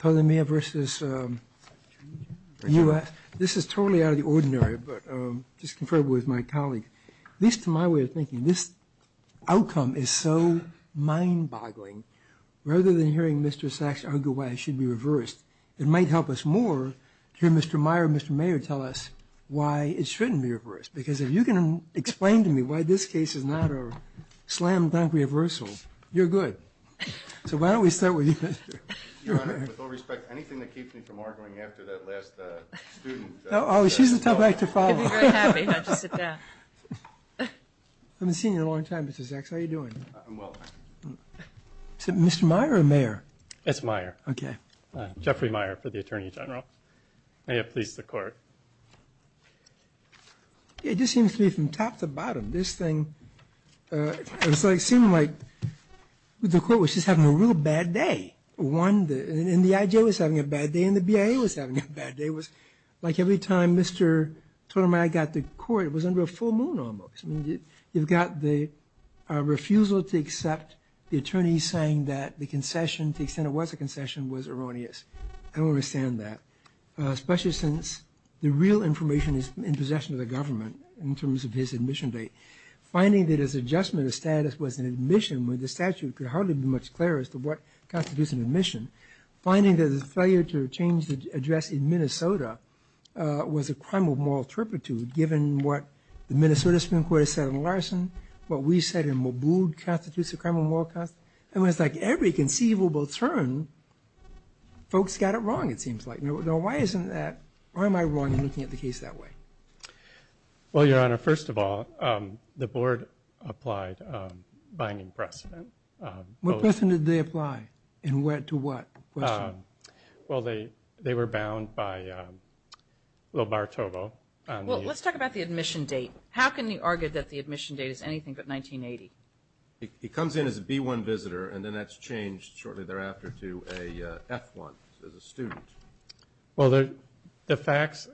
This is totally out of the ordinary, but just compared with my colleague, at least to my way of thinking, this outcome is so mind-boggling. Rather than hearing Mr. Sachs argue why it should be reversed, it might help us more to hear Mr. Meyer and Mr. Mayer tell us why it shouldn't be reversed. Because if you can explain to me why this case is not a slam So why don't we start with you, Mr. Your Honor, with all respect, anything that keeps me from arguing after that last student Oh, she's the tough act to follow. I'd be very happy not to sit down. I haven't seen you in a long time, Mr. Sachs. How are you doing? I'm well, thank you. Is it Mr. Meyer or Mayor? It's Meyer. Okay. Jeffrey Meyer for the Attorney General. May it please the Court. It just seems to me from top to bottom, this thing, it seemed like the Court was just having a real bad day. One, and the IJ was having a bad day and the BIA was having a bad day. It was like every time Mr. Totemeyer got to court, it was under a full moon almost. You've got the refusal to accept the attorney saying that the concession, to the extent it was a concession, was erroneous. I don't understand that, especially since the real information is in possession of the government in terms of his admission date. Finding that his adjustment of status was an admission with the statute could hardly be much clearer as to what constitutes an admission. Finding that his failure to change the address in Minnesota was a crime of moral turpitude, given what the Minnesota Supreme Court has said in Larson, what we said in Maboud constitutes a crime of moral constitution. It was like every conceivable turn, folks got it wrong, it seems like. Now, why isn't that, why am I wrong in looking at the case that way? Well, Your Honor, first of all, the Board applied a binding precedent. What precedent did they apply, and to what question? Well, they were bound by Lobartovo. Well, let's talk about the admission date. How can you argue that the admission date is anything but 1980? It comes in as a B-1 visitor, and then that's changed shortly thereafter to a F-1, as a student. Well, the facts,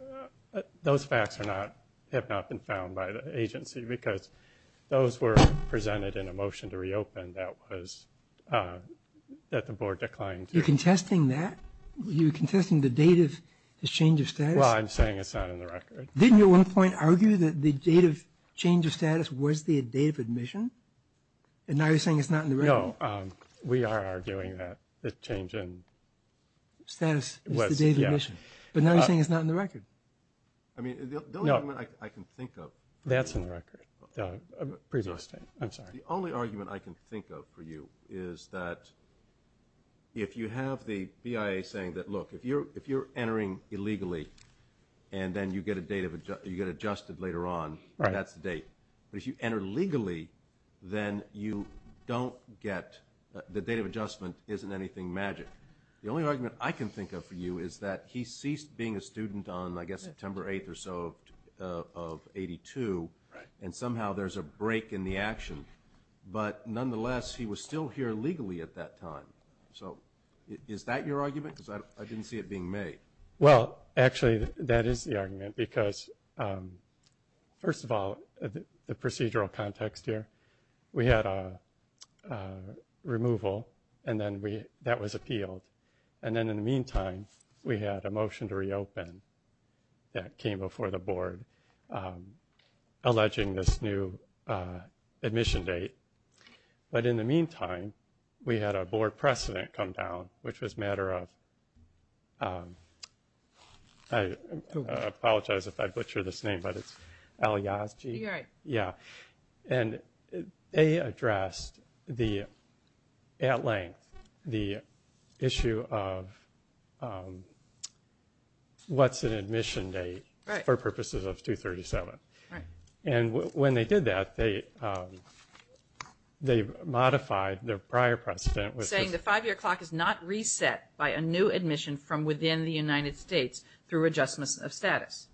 those facts are not, have not been found by the agency, because those were presented in a motion to reopen that was, that the Board declined to. You're contesting that? You're contesting the date of his change of status? Well, I'm saying it's not in the record. Didn't you at one point argue that the date of change of status was the date of admission? And now you're saying it's not in the record? No, we are arguing that the change in status was the date of admission. But now you're saying it's not in the record. I mean, the only argument I can think of. That's in the record. I'm sorry. The only argument I can think of for you is that if you have the BIA saying that, look, if you're entering illegally and then you get adjusted later on, that's the date. But if you enter legally, then you don't get, the date of adjustment isn't anything magic. The only argument I can think of for you is that he ceased being a student on, I guess, September 8th or so of 82, and somehow there's a break in the action. But nonetheless, he was still here legally at that time. So is that your argument? Because I didn't see it being made. Well, actually, that is the argument because, first of all, the procedural context here, we had a removal, and then that was appealed. And then in the meantime, we had a motion to reopen that came before the board, alleging this new admission date. But in the meantime, we had a board precedent come down, which was a matter of, I apologize if I butcher this name, but it's Alyazji. You're right. Yeah. And they addressed at length the issue of what's an admission date for purposes of 237. Right. And when they did that, they modified their prior precedent. Saying the five-year clock is not reset by a new admission from within the United States through adjustments of status.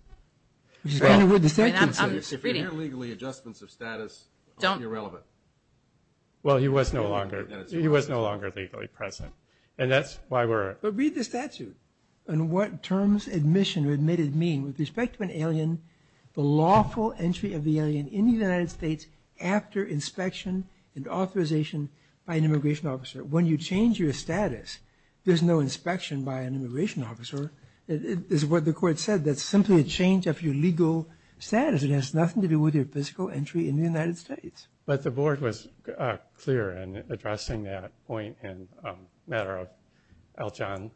And I'm reading. If you hear legally adjustments of status, don't be irrelevant. Well, he was no longer legally present. And that's why we're. But read the statute. On what terms admission or admitted mean with respect to an alien, the lawful entry of the alien in the United States after inspection and authorization by an immigration officer. When you change your status, there's no inspection by an immigration officer. This is what the court said. That's simply a change of your legal status. It has nothing to do with your physical entry in the United States. But the board was clear in addressing that point in a matter of Eljan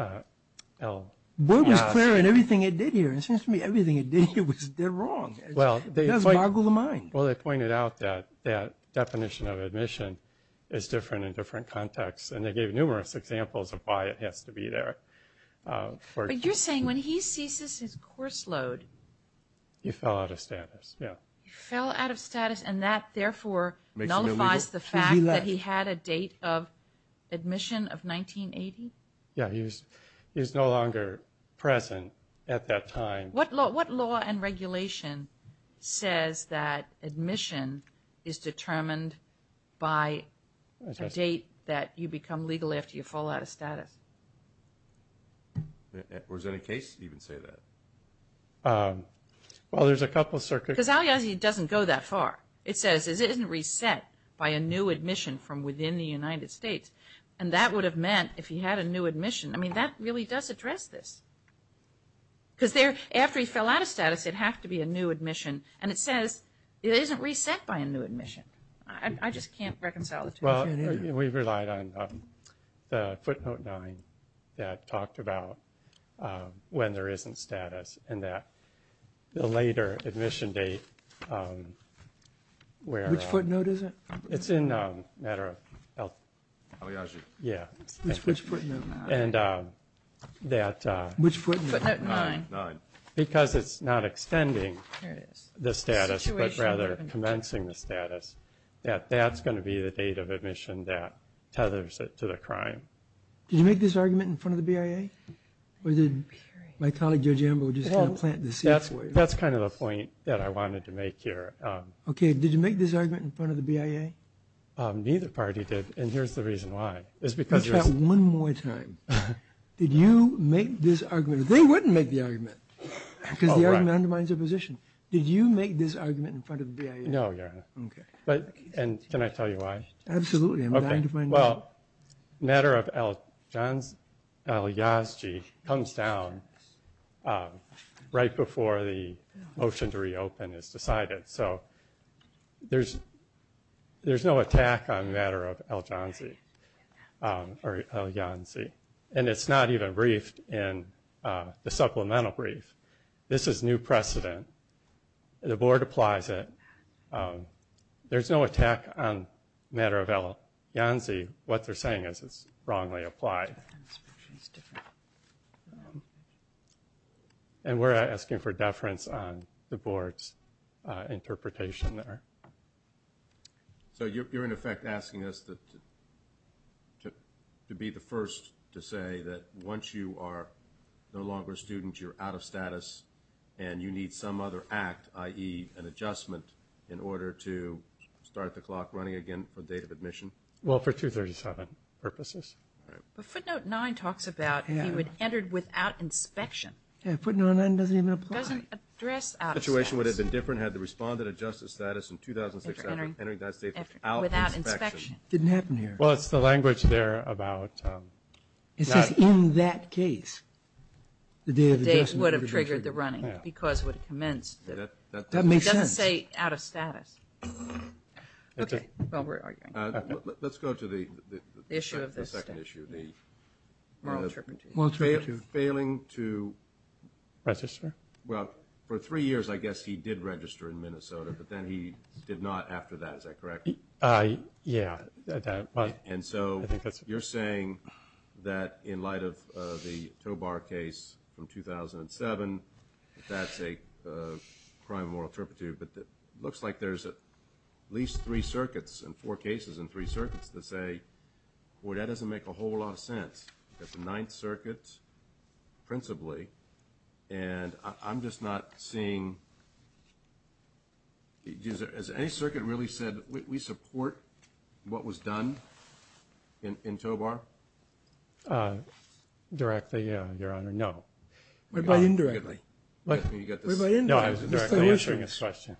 El-Yazji. The board was clear in everything it did here. And it seems to me everything it did here was dead wrong. It does boggle the mind. Well, they pointed out that that definition of admission is different in different contexts. And they gave numerous examples of why it has to be there. But you're saying when he ceases his course load. He fell out of status. Yeah. He fell out of status. And that, therefore, nullifies the fact that he had a date of admission of 1980? Yeah. He was no longer present at that time. What law and regulation says that admission is determined by a date that you become legal after you fall out of status? Or does any case even say that? Well, there's a couple circuits. Because El-Yazji doesn't go that far. It says it isn't reset by a new admission from within the United States. And that would have meant if he had a new admission. I mean, that really does address this. Because after he fell out of status, it'd have to be a new admission. And it says it isn't reset by a new admission. I just can't reconcile the two. Well, we relied on the footnote 9 that talked about when there isn't status and that the later admission date where. Which footnote is it? It's in a matter of El-Yazji. Yeah. Which footnote? And that. Which footnote? Footnote 9. Because it's not extending the status, but rather commencing the status, that that's going to be the date of admission that tethers it to the crime. Did you make this argument in front of the BIA? Or did my colleague, Judge Amber, were just going to plant the seeds for you? That's kind of the point that I wanted to make here. Okay. Did you make this argument in front of the BIA? Neither party did, and here's the reason why. Let's try it one more time. Did you make this argument? They wouldn't make the argument because the argument undermines their position. Did you make this argument in front of the BIA? No, Your Honor. Okay. And can I tell you why? Absolutely. I'm dying to find out. Well, matter of Elianzi comes down right before the motion to reopen is decided. So there's no attack on matter of Elianzi. And it's not even briefed in the supplemental brief. This is new precedent. The Board applies it. There's no attack on matter of Elianzi. What they're saying is it's wrongly applied. And we're asking for deference on the Board's interpretation there. So you're, in effect, asking us to be the first to say that once you are no longer a student, and you need some other act, i.e., an adjustment, in order to start the clock running again for date of admission? Well, for 237 purposes. But footnote 9 talks about he would enter without inspection. Yeah, footnote 9 doesn't even apply. It doesn't address out-of-status. The situation would have been different had the respondent adjusted status in 2006 after entering the United States without inspection. It didn't happen here. Well, it's the language there about not. It says in that case. The date of adjustment would have triggered the running because it would have commenced. That makes sense. It doesn't say out-of-status. Okay, well, we're arguing. Let's go to the second issue, the moral interpretation. Failing to register? Well, for three years, I guess, he did register in Minnesota, but then he did not after that. Is that correct? Yeah. And so you're saying that in light of the Tobar case from 2007, that's a crime of moral interpretation. But it looks like there's at least three circuits and four cases and three circuits that say, boy, that doesn't make a whole lot of sense. That's the Ninth Circuit principally. And I'm just not seeing. Has any circuit really said we support what was done in Tobar? Directly, Your Honor, no. What about indirectly? No, I was indirectly issuing a question.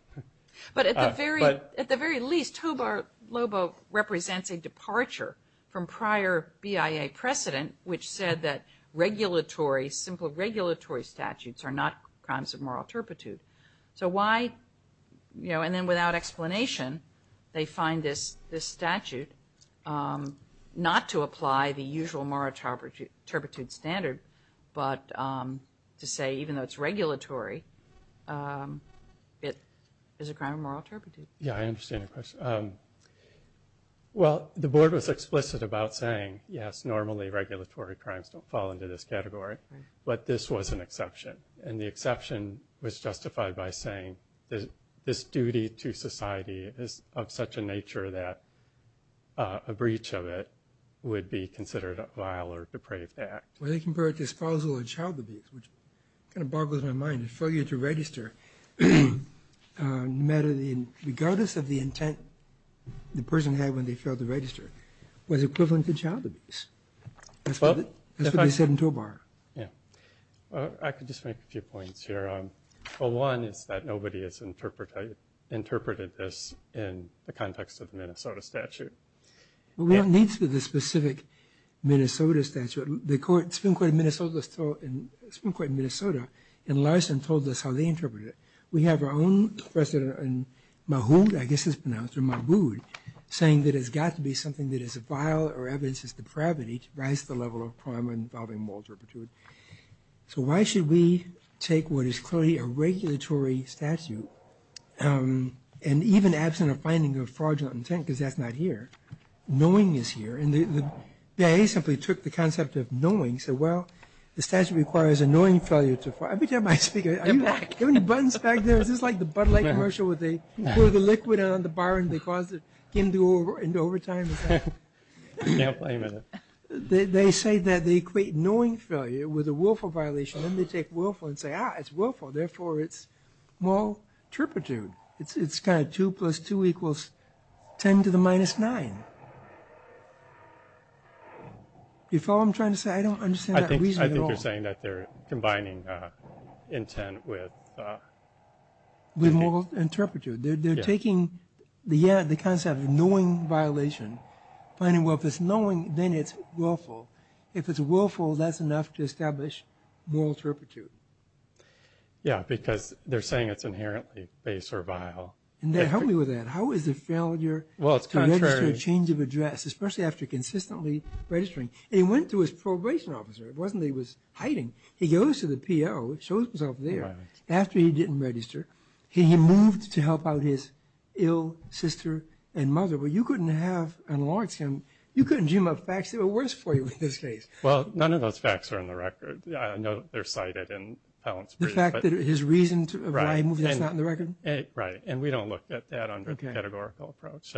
But at the very least, Tobar LOBO represents a departure from prior BIA precedent, which said that regulatory, simple regulatory statutes are not crimes of moral turpitude. So why, you know, and then without explanation, they find this statute not to apply the usual moral turpitude standard, but to say even though it's regulatory, it is a crime of moral turpitude. Yeah, I understand your question. Well, the Board was explicit about saying, yes, normally regulatory crimes don't fall into this category, but this was an exception. And the exception was justified by saying this duty to society is of such a nature that a breach of it would be considered a vile or depraved act. Well, they compare it to espousal and child abuse, which kind of boggles my mind. The failure to register, regardless of the intent the person had when they failed to register, was equivalent to child abuse. That's what they said in Tobar. Yeah. I could just make a few points here. One is that nobody has interpreted this in the context of the Minnesota statute. Well, what needs to be the specific Minnesota statute? The Supreme Court of Minnesota in Larson told us how they interpreted it. We have our own President Mahmoud, I guess it's pronounced, or Mahmoud, saying that it's got to be something that is vile or evidences depravity to rise the level of crime involving moral turpitude. So why should we take what is clearly a regulatory statute, and even absent a finding of fraudulent intent, because that's not here, knowing is here. And the BIA simply took the concept of knowing and said, well, the statute requires a knowing failure to fraud. Every time I speak, are there any buttons back there? Is this like the Bud Light commercial where they pour the liquid on the bar and they cause it to go into overtime? They say that they equate knowing failure with a willful violation. Then they take willful and say, ah, it's willful. Therefore, it's moral turpitude. It's kind of 2 plus 2 equals 10 to the minus 9. You follow what I'm trying to say? I don't understand that reason at all. I think they're saying that they're combining intent with... With moral turpitude. They're taking the concept of knowing violation, finding, well, if it's knowing, then it's willful. If it's willful, that's enough to establish moral turpitude. Yeah, because they're saying it's inherently base or vile. And help me with that. How is the failure to register a change of address, especially after consistently registering? And he went to his probation officer. It wasn't that he was hiding. He goes to the PO, shows himself there. After he didn't register, he moved to help out his ill sister and mother. But you couldn't have enlarged him. You couldn't dream up facts that were worse for you in this case. Well, none of those facts are in the record. I know they're cited in Pallant's brief. The fact that his reason for why he moved is not in the record? Right. And we don't look at that under a categorical approach.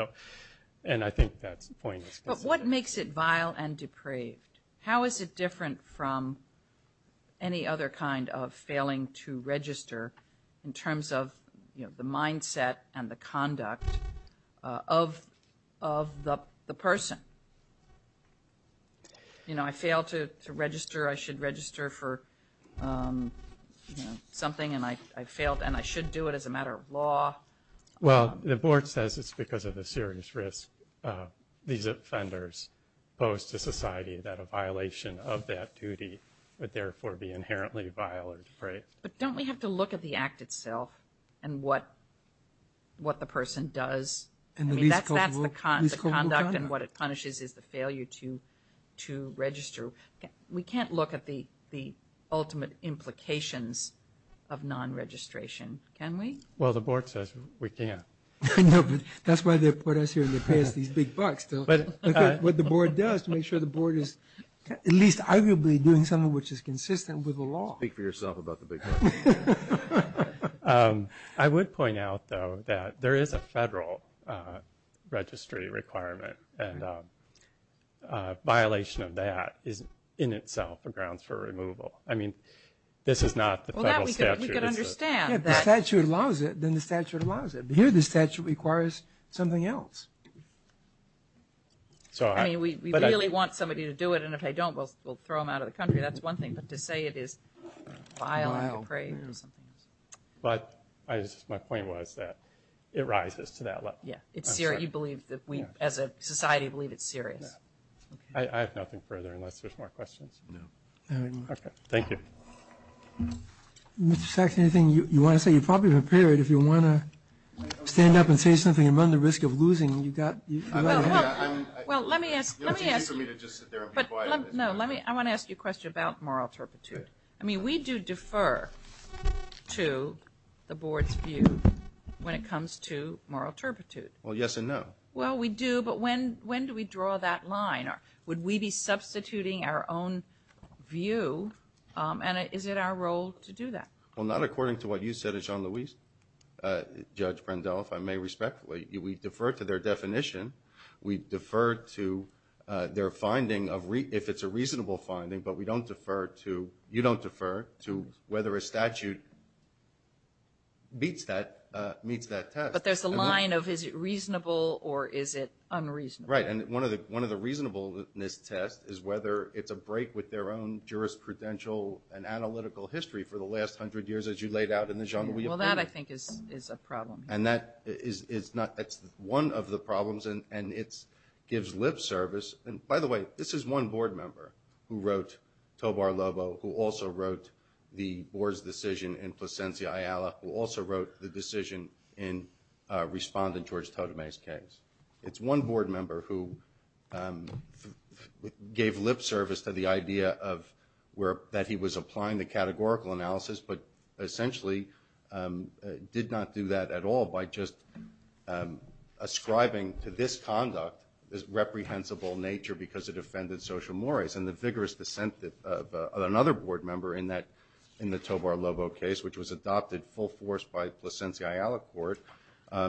And I think that point is consistent. But what makes it vile and depraved? How is it different from any other kind of failing to register in terms of, you know, the mindset and the conduct of the person? You know, I failed to register. I should register for, you know, something and I failed and I should do it as a matter of law. Well, the board says it's because of the serious risk these offenders pose to society that a violation of that duty would, therefore, be inherently vile or depraved. But don't we have to look at the act itself and what the person does? I mean, that's the conduct and what it punishes is the failure to register. We can't look at the ultimate implications of non-registration, can we? Well, the board says we can't. I know, but that's why they put us here and they pay us these big bucks. What the board does to make sure the board is at least arguably doing something which is consistent with the law. Speak for yourself about the big bucks. I would point out, though, that there is a federal registry requirement and a violation of that is in itself a grounds for removal. I mean, this is not the federal statute. We can understand that. If the statute allows it, then the statute allows it. Here the statute requires something else. I mean, we really want somebody to do it and if they don't, we'll throw them out of the country. That's one thing, but to say it is vile and depraved is something else. But my point was that it rises to that level. Yeah, it's serious. You believe that we, as a society, believe it's serious. I have nothing further unless there's more questions. No. Okay. Thank you. Mr. Sachs, anything you want to say? You're probably prepared if you want to stand up and say something and run the risk of losing. Well, let me ask. You don't think it's for me to just sit there and be quiet? No, I want to ask you a question about moral turpitude. I mean, we do defer to the Board's view when it comes to moral turpitude. Well, yes and no. Well, we do, but when do we draw that line? Would we be substituting our own view? And is it our role to do that? Well, not according to what you said, Judge Brendel, if I may respectfully. We defer to their definition. We defer to their finding, if it's a reasonable finding, but we don't defer to – you don't defer to whether a statute meets that test. But there's a line of is it reasonable or is it unreasonable. Right, and one of the reasonableness tests is whether it's a break with their own jurisprudential and analytical history for the last hundred years, as you laid out in the genre. Well, that, I think, is a problem. And that is not – that's one of the problems, and it gives lip service. And, by the way, this is one Board member who wrote Tobar-Lobo, who also wrote the Board's decision in Plasencia-Ayala, who also wrote the decision in Respondent George Totome's case. It's one Board member who gave lip service to the idea that he was applying the law by just ascribing to this conduct this reprehensible nature because it offended social mores. And the vigorous dissent of another Board member in the Tobar-Lobo case, which was adopted full force by Plasencia-Ayala court,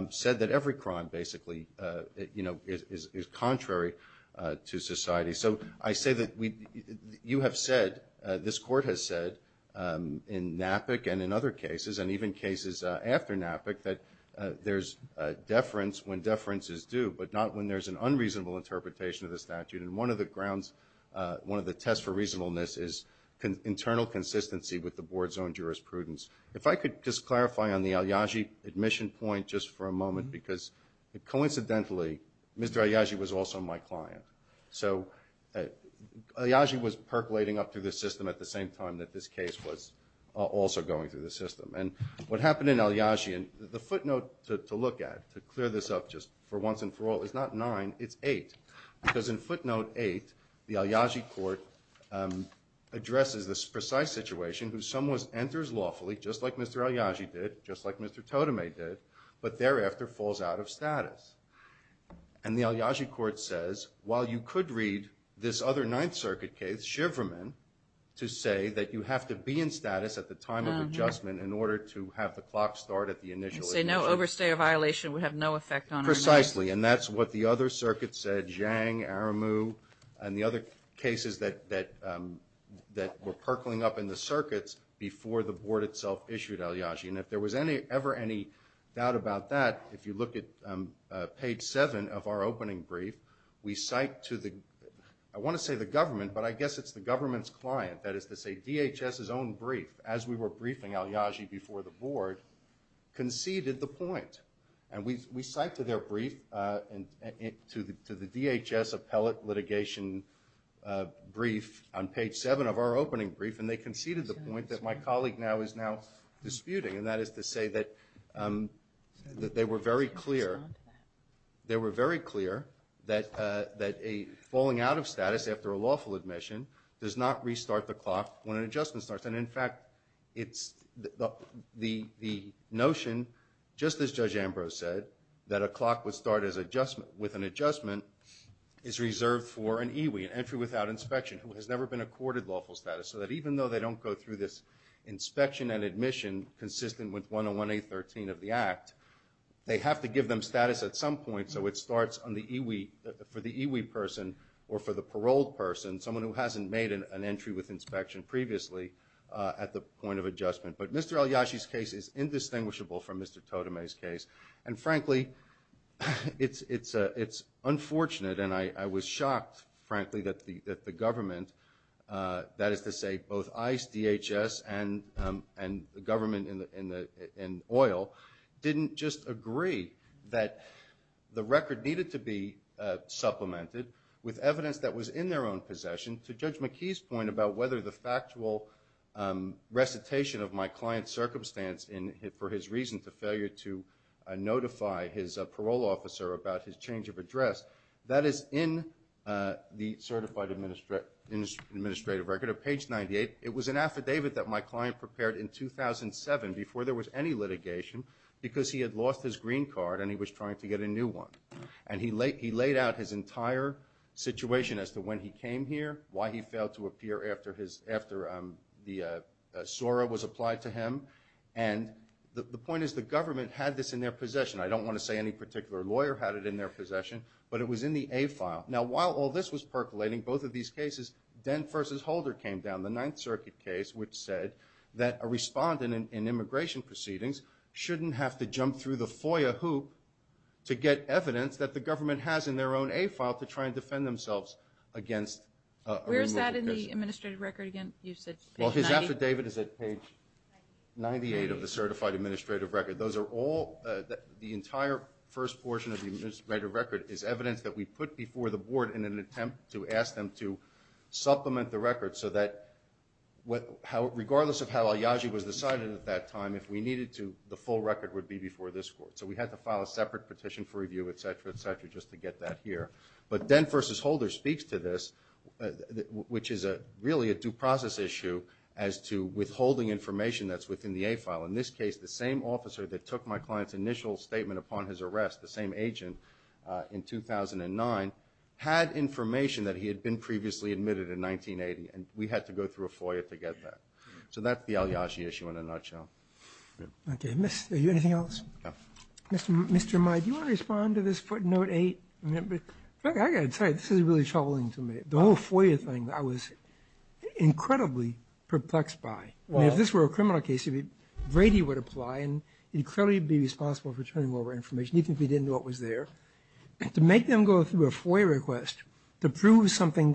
said that every crime basically is contrary to society. So I say that you have said, this court has said, in NAPIC and in other cases, and even cases after NAPIC, that there's deference when deference is due, but not when there's an unreasonable interpretation of the statute. And one of the grounds, one of the tests for reasonableness, is internal consistency with the Board's own jurisprudence. If I could just clarify on the Alyagi admission point just for a moment, because coincidentally Mr. Alyagi was also my client. So Alyagi was percolating up through the system at the same time that this case was also going through the system. And what happened in Alyagi, and the footnote to look at, to clear this up just for once and for all, is not nine, it's eight. Because in footnote eight, the Alyagi court addresses this precise situation who somewhat enters lawfully, just like Mr. Alyagi did, just like Mr. Totome did, but thereafter falls out of status. And the Alyagi court says, while you could read this other Ninth Circuit case, to say that you have to be in status at the time of adjustment in order to have the clock start at the initial admission. And say no overstay or violation would have no effect on our name. Precisely. And that's what the other circuits said, Zhang, Aramu, and the other cases that were percolating up in the circuits before the Board itself issued Alyagi. And if there was ever any doubt about that, if you look at page seven of our opening brief, we cite to the, not the government, but I guess it's the government's client, that is to say DHS's own brief, as we were briefing Alyagi before the Board, conceded the point. And we cite to their brief, to the DHS appellate litigation brief, on page seven of our opening brief, and they conceded the point that my colleague now is now disputing. And that is to say that they were very clear, they were very clear that a falling out of status after a lawful admission does not restart the clock when an adjustment starts. And, in fact, it's the notion, just as Judge Ambrose said, that a clock would start as adjustment, with an adjustment, is reserved for an EWE, an entry without inspection, who has never been accorded lawful status. consistent with 101A13 of the Act. They have to give them status at some point, so it starts on the EWE, for the EWE person, or for the paroled person, someone who hasn't made an entry with inspection previously at the point of adjustment. But Mr. Alyagi's case is indistinguishable from Mr. Totome's case. And, frankly, it's unfortunate, and I was shocked, frankly, that the government, that is to say both ICE, DHS, and the government in oil, didn't just agree that the record needed to be supplemented with evidence that was in their own possession. To Judge McKee's point about whether the factual recitation of my client's circumstance for his reason to failure to notify his parole officer about his change of address, that is in the certified administrative record at page 98. It was an affidavit that my client prepared in 2007 before there was any litigation, because he had lost his green card and he was trying to get a new one. And he laid out his entire situation as to when he came here, why he failed to appear after the SORA was applied to him. And the point is the government had this in their possession. I don't want to say any particular lawyer had it in their possession, but it was in the A file. Now, while all this was percolating, both of these cases, Dent v. Holder came down, the Ninth Circuit case, which said that a respondent in immigration proceedings shouldn't have to jump through the FOIA hoop to get evidence that the government has in their own A file to try and defend themselves against a removal case. Where is that in the administrative record again? Well, his affidavit is at page 98 of the certified administrative record. The entire first portion of the administrative record is evidence that we put before the board in an attempt to ask them to supplement the record so that regardless of how al-Yaji was decided at that time, if we needed to, the full record would be before this court. So we had to file a separate petition for review, etc., etc., just to get that here. But Dent v. Holder speaks to this, which is really a due process issue as to withholding information that's within the A file. In this case, the same officer that took my client's initial statement upon his arrest, the same agent in 2009, had information that he had been previously admitted in 1980, and we had to go through a FOIA to get that. So that's the al-Yaji issue in a nutshell. Okay. Are you anything else? No. Mr. Meyer, do you want to respond to this footnote 8? I've got to tell you, this is really troubling to me. The whole FOIA thing I was incredibly perplexed by. If this were a criminal case, Brady would apply and he'd clearly be responsible for turning over information, even if he didn't know it was there. To make them go through a FOIA request, to prove something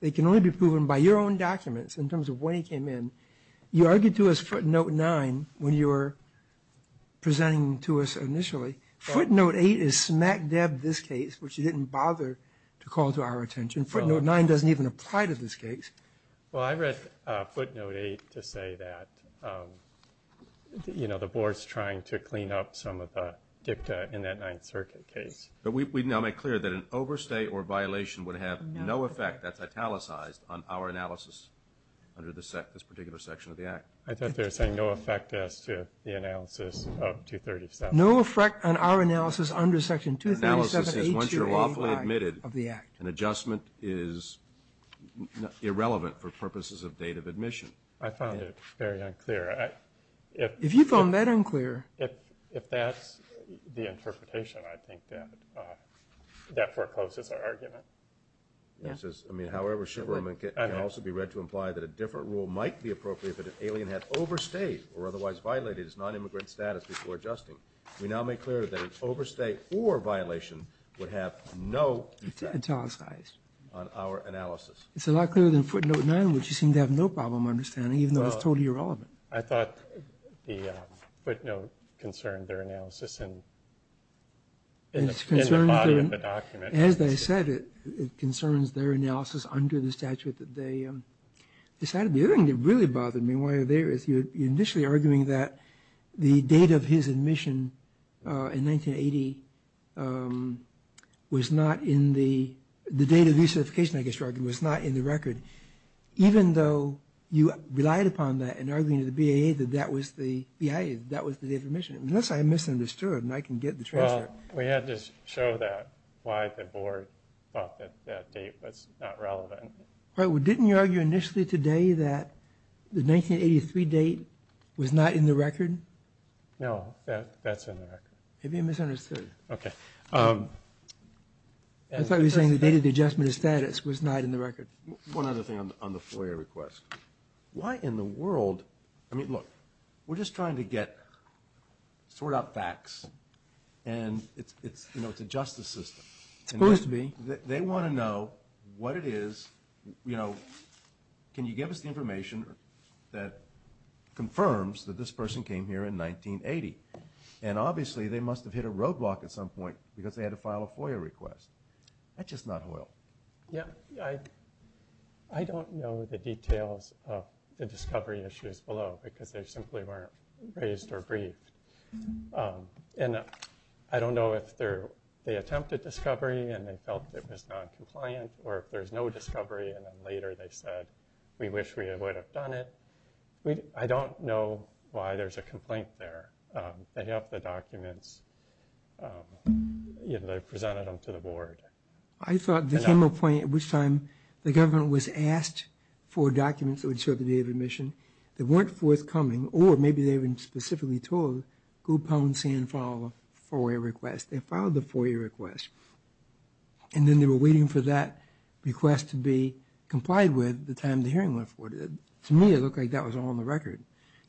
that can only be proven by your own documents in terms of when he came in, you argued to us footnote 9 when you were presenting to us initially. Footnote 8 is smack dab this case, which you didn't bother to call to our attention. Footnote 9 doesn't even apply to this case. Well, I read footnote 8 to say that, you know, the Board's trying to clean up some of the dicta in that Ninth Circuit case. But we now make clear that an overstay or violation would have no effect, that's italicized, on our analysis under this particular section of the Act. I thought they were saying no effect as to the analysis of 237. No effect on our analysis under Section 237A2AY of the Act. Analysis is once you're lawfully admitted, an adjustment is irrelevant for purposes of date of admission. I found it very unclear. If you found that unclear... If that's the interpretation, I think that forecloses our argument. I mean, however, it can also be read to imply that a different rule might be appropriate if an alien had overstayed or otherwise violated his nonimmigrant status before adjusting. We now make clear that an overstay or violation would have no effect... It's italicized. ...on our analysis. It's a lot clearer than footnote 9, which you seem to have no problem understanding, even though it's totally irrelevant. I thought the footnote concerned their analysis in the body of the document. As I said, it concerns their analysis under the statute that they decided. The other thing that really bothered me while you're there is you're initially arguing that the date of his admission in 1980 was not in the... Even though you relied upon that in arguing to the BAA that that was the date of admission. Unless I misunderstood and I can get the transcript. Well, we had to show that why the board thought that that date was not relevant. Well, didn't you argue initially today that the 1983 date was not in the record? No, that's in the record. Maybe you misunderstood. Okay. I thought you were saying the date of the adjustment of status was not in the record. One other thing on the FOIA request. Why in the world? I mean, look, we're just trying to get, sort out facts, and it's a justice system. It's supposed to be. They want to know what it is. Can you give us the information that confirms that this person came here in 1980? And obviously they must have hit a roadblock at some point because they had to file a FOIA request. That's just not loyal. Yeah, I don't know the details of the discovery issues below because they simply weren't raised or briefed. And I don't know if they attempted discovery and they felt it was noncompliant or if there's no discovery and then later they said, we wish we would have done it. I don't know why there's a complaint there. They presented them to the board. I thought there came a point at which time the government was asked for documents that would show up at the date of admission that weren't forthcoming or maybe they were specifically told, go pound, sand, file a FOIA request. They filed the FOIA request. And then they were waiting for that request to be complied with by the time the hearing went forward. To me, it looked like that was all on the record.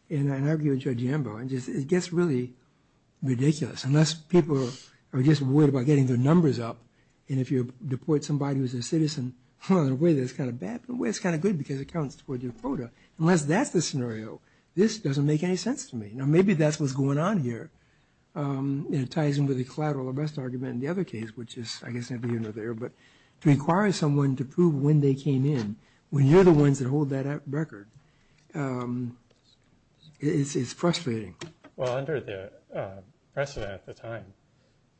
And I argue with Judge Ambrose, it gets really ridiculous. Unless people are just worried about getting their numbers up and if you deport somebody who's a citizen, well, in a way that's kind of bad, but in a way that's kind of good because it counts toward your quota. Unless that's the scenario, this doesn't make any sense to me. Now, maybe that's what's going on here. It ties in with the collateral arrest argument in the other case, which is, I guess, not even there. But to require someone to prove when they came in, when you're the ones that hold that record, it's frustrating. Well, under the precedent at the time,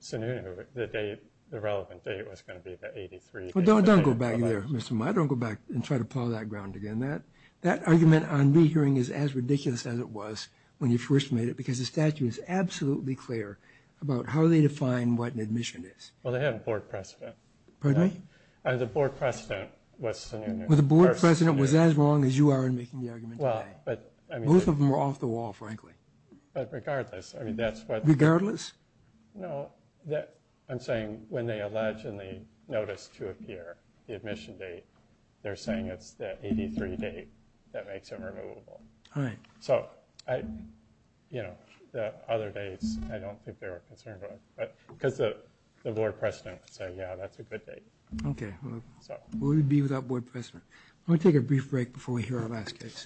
Sununu, the relevant date was going to be the 83rd. Well, don't go back there, Mr. Mudd. Don't go back and try to plow that ground again. That argument on me hearing is as ridiculous as it was when you first made it because the statute is absolutely clear about how they define what an admission is. Well, they have a board precedent. Pardon me? The board precedent was Sununu. Well, the board precedent was as wrong as you are in making the argument today. Both of them are off the wall, frankly. But regardless, I mean, that's what— Regardless? No. I'm saying when they allegedly notice to appear the admission date, they're saying it's that 83 date that makes it removable. So, you know, the other dates I don't think they were concerned about because the board precedent would say, yeah, that's a good date. Okay. What would it be without board precedent? Let me take a brief break before we hear our last case.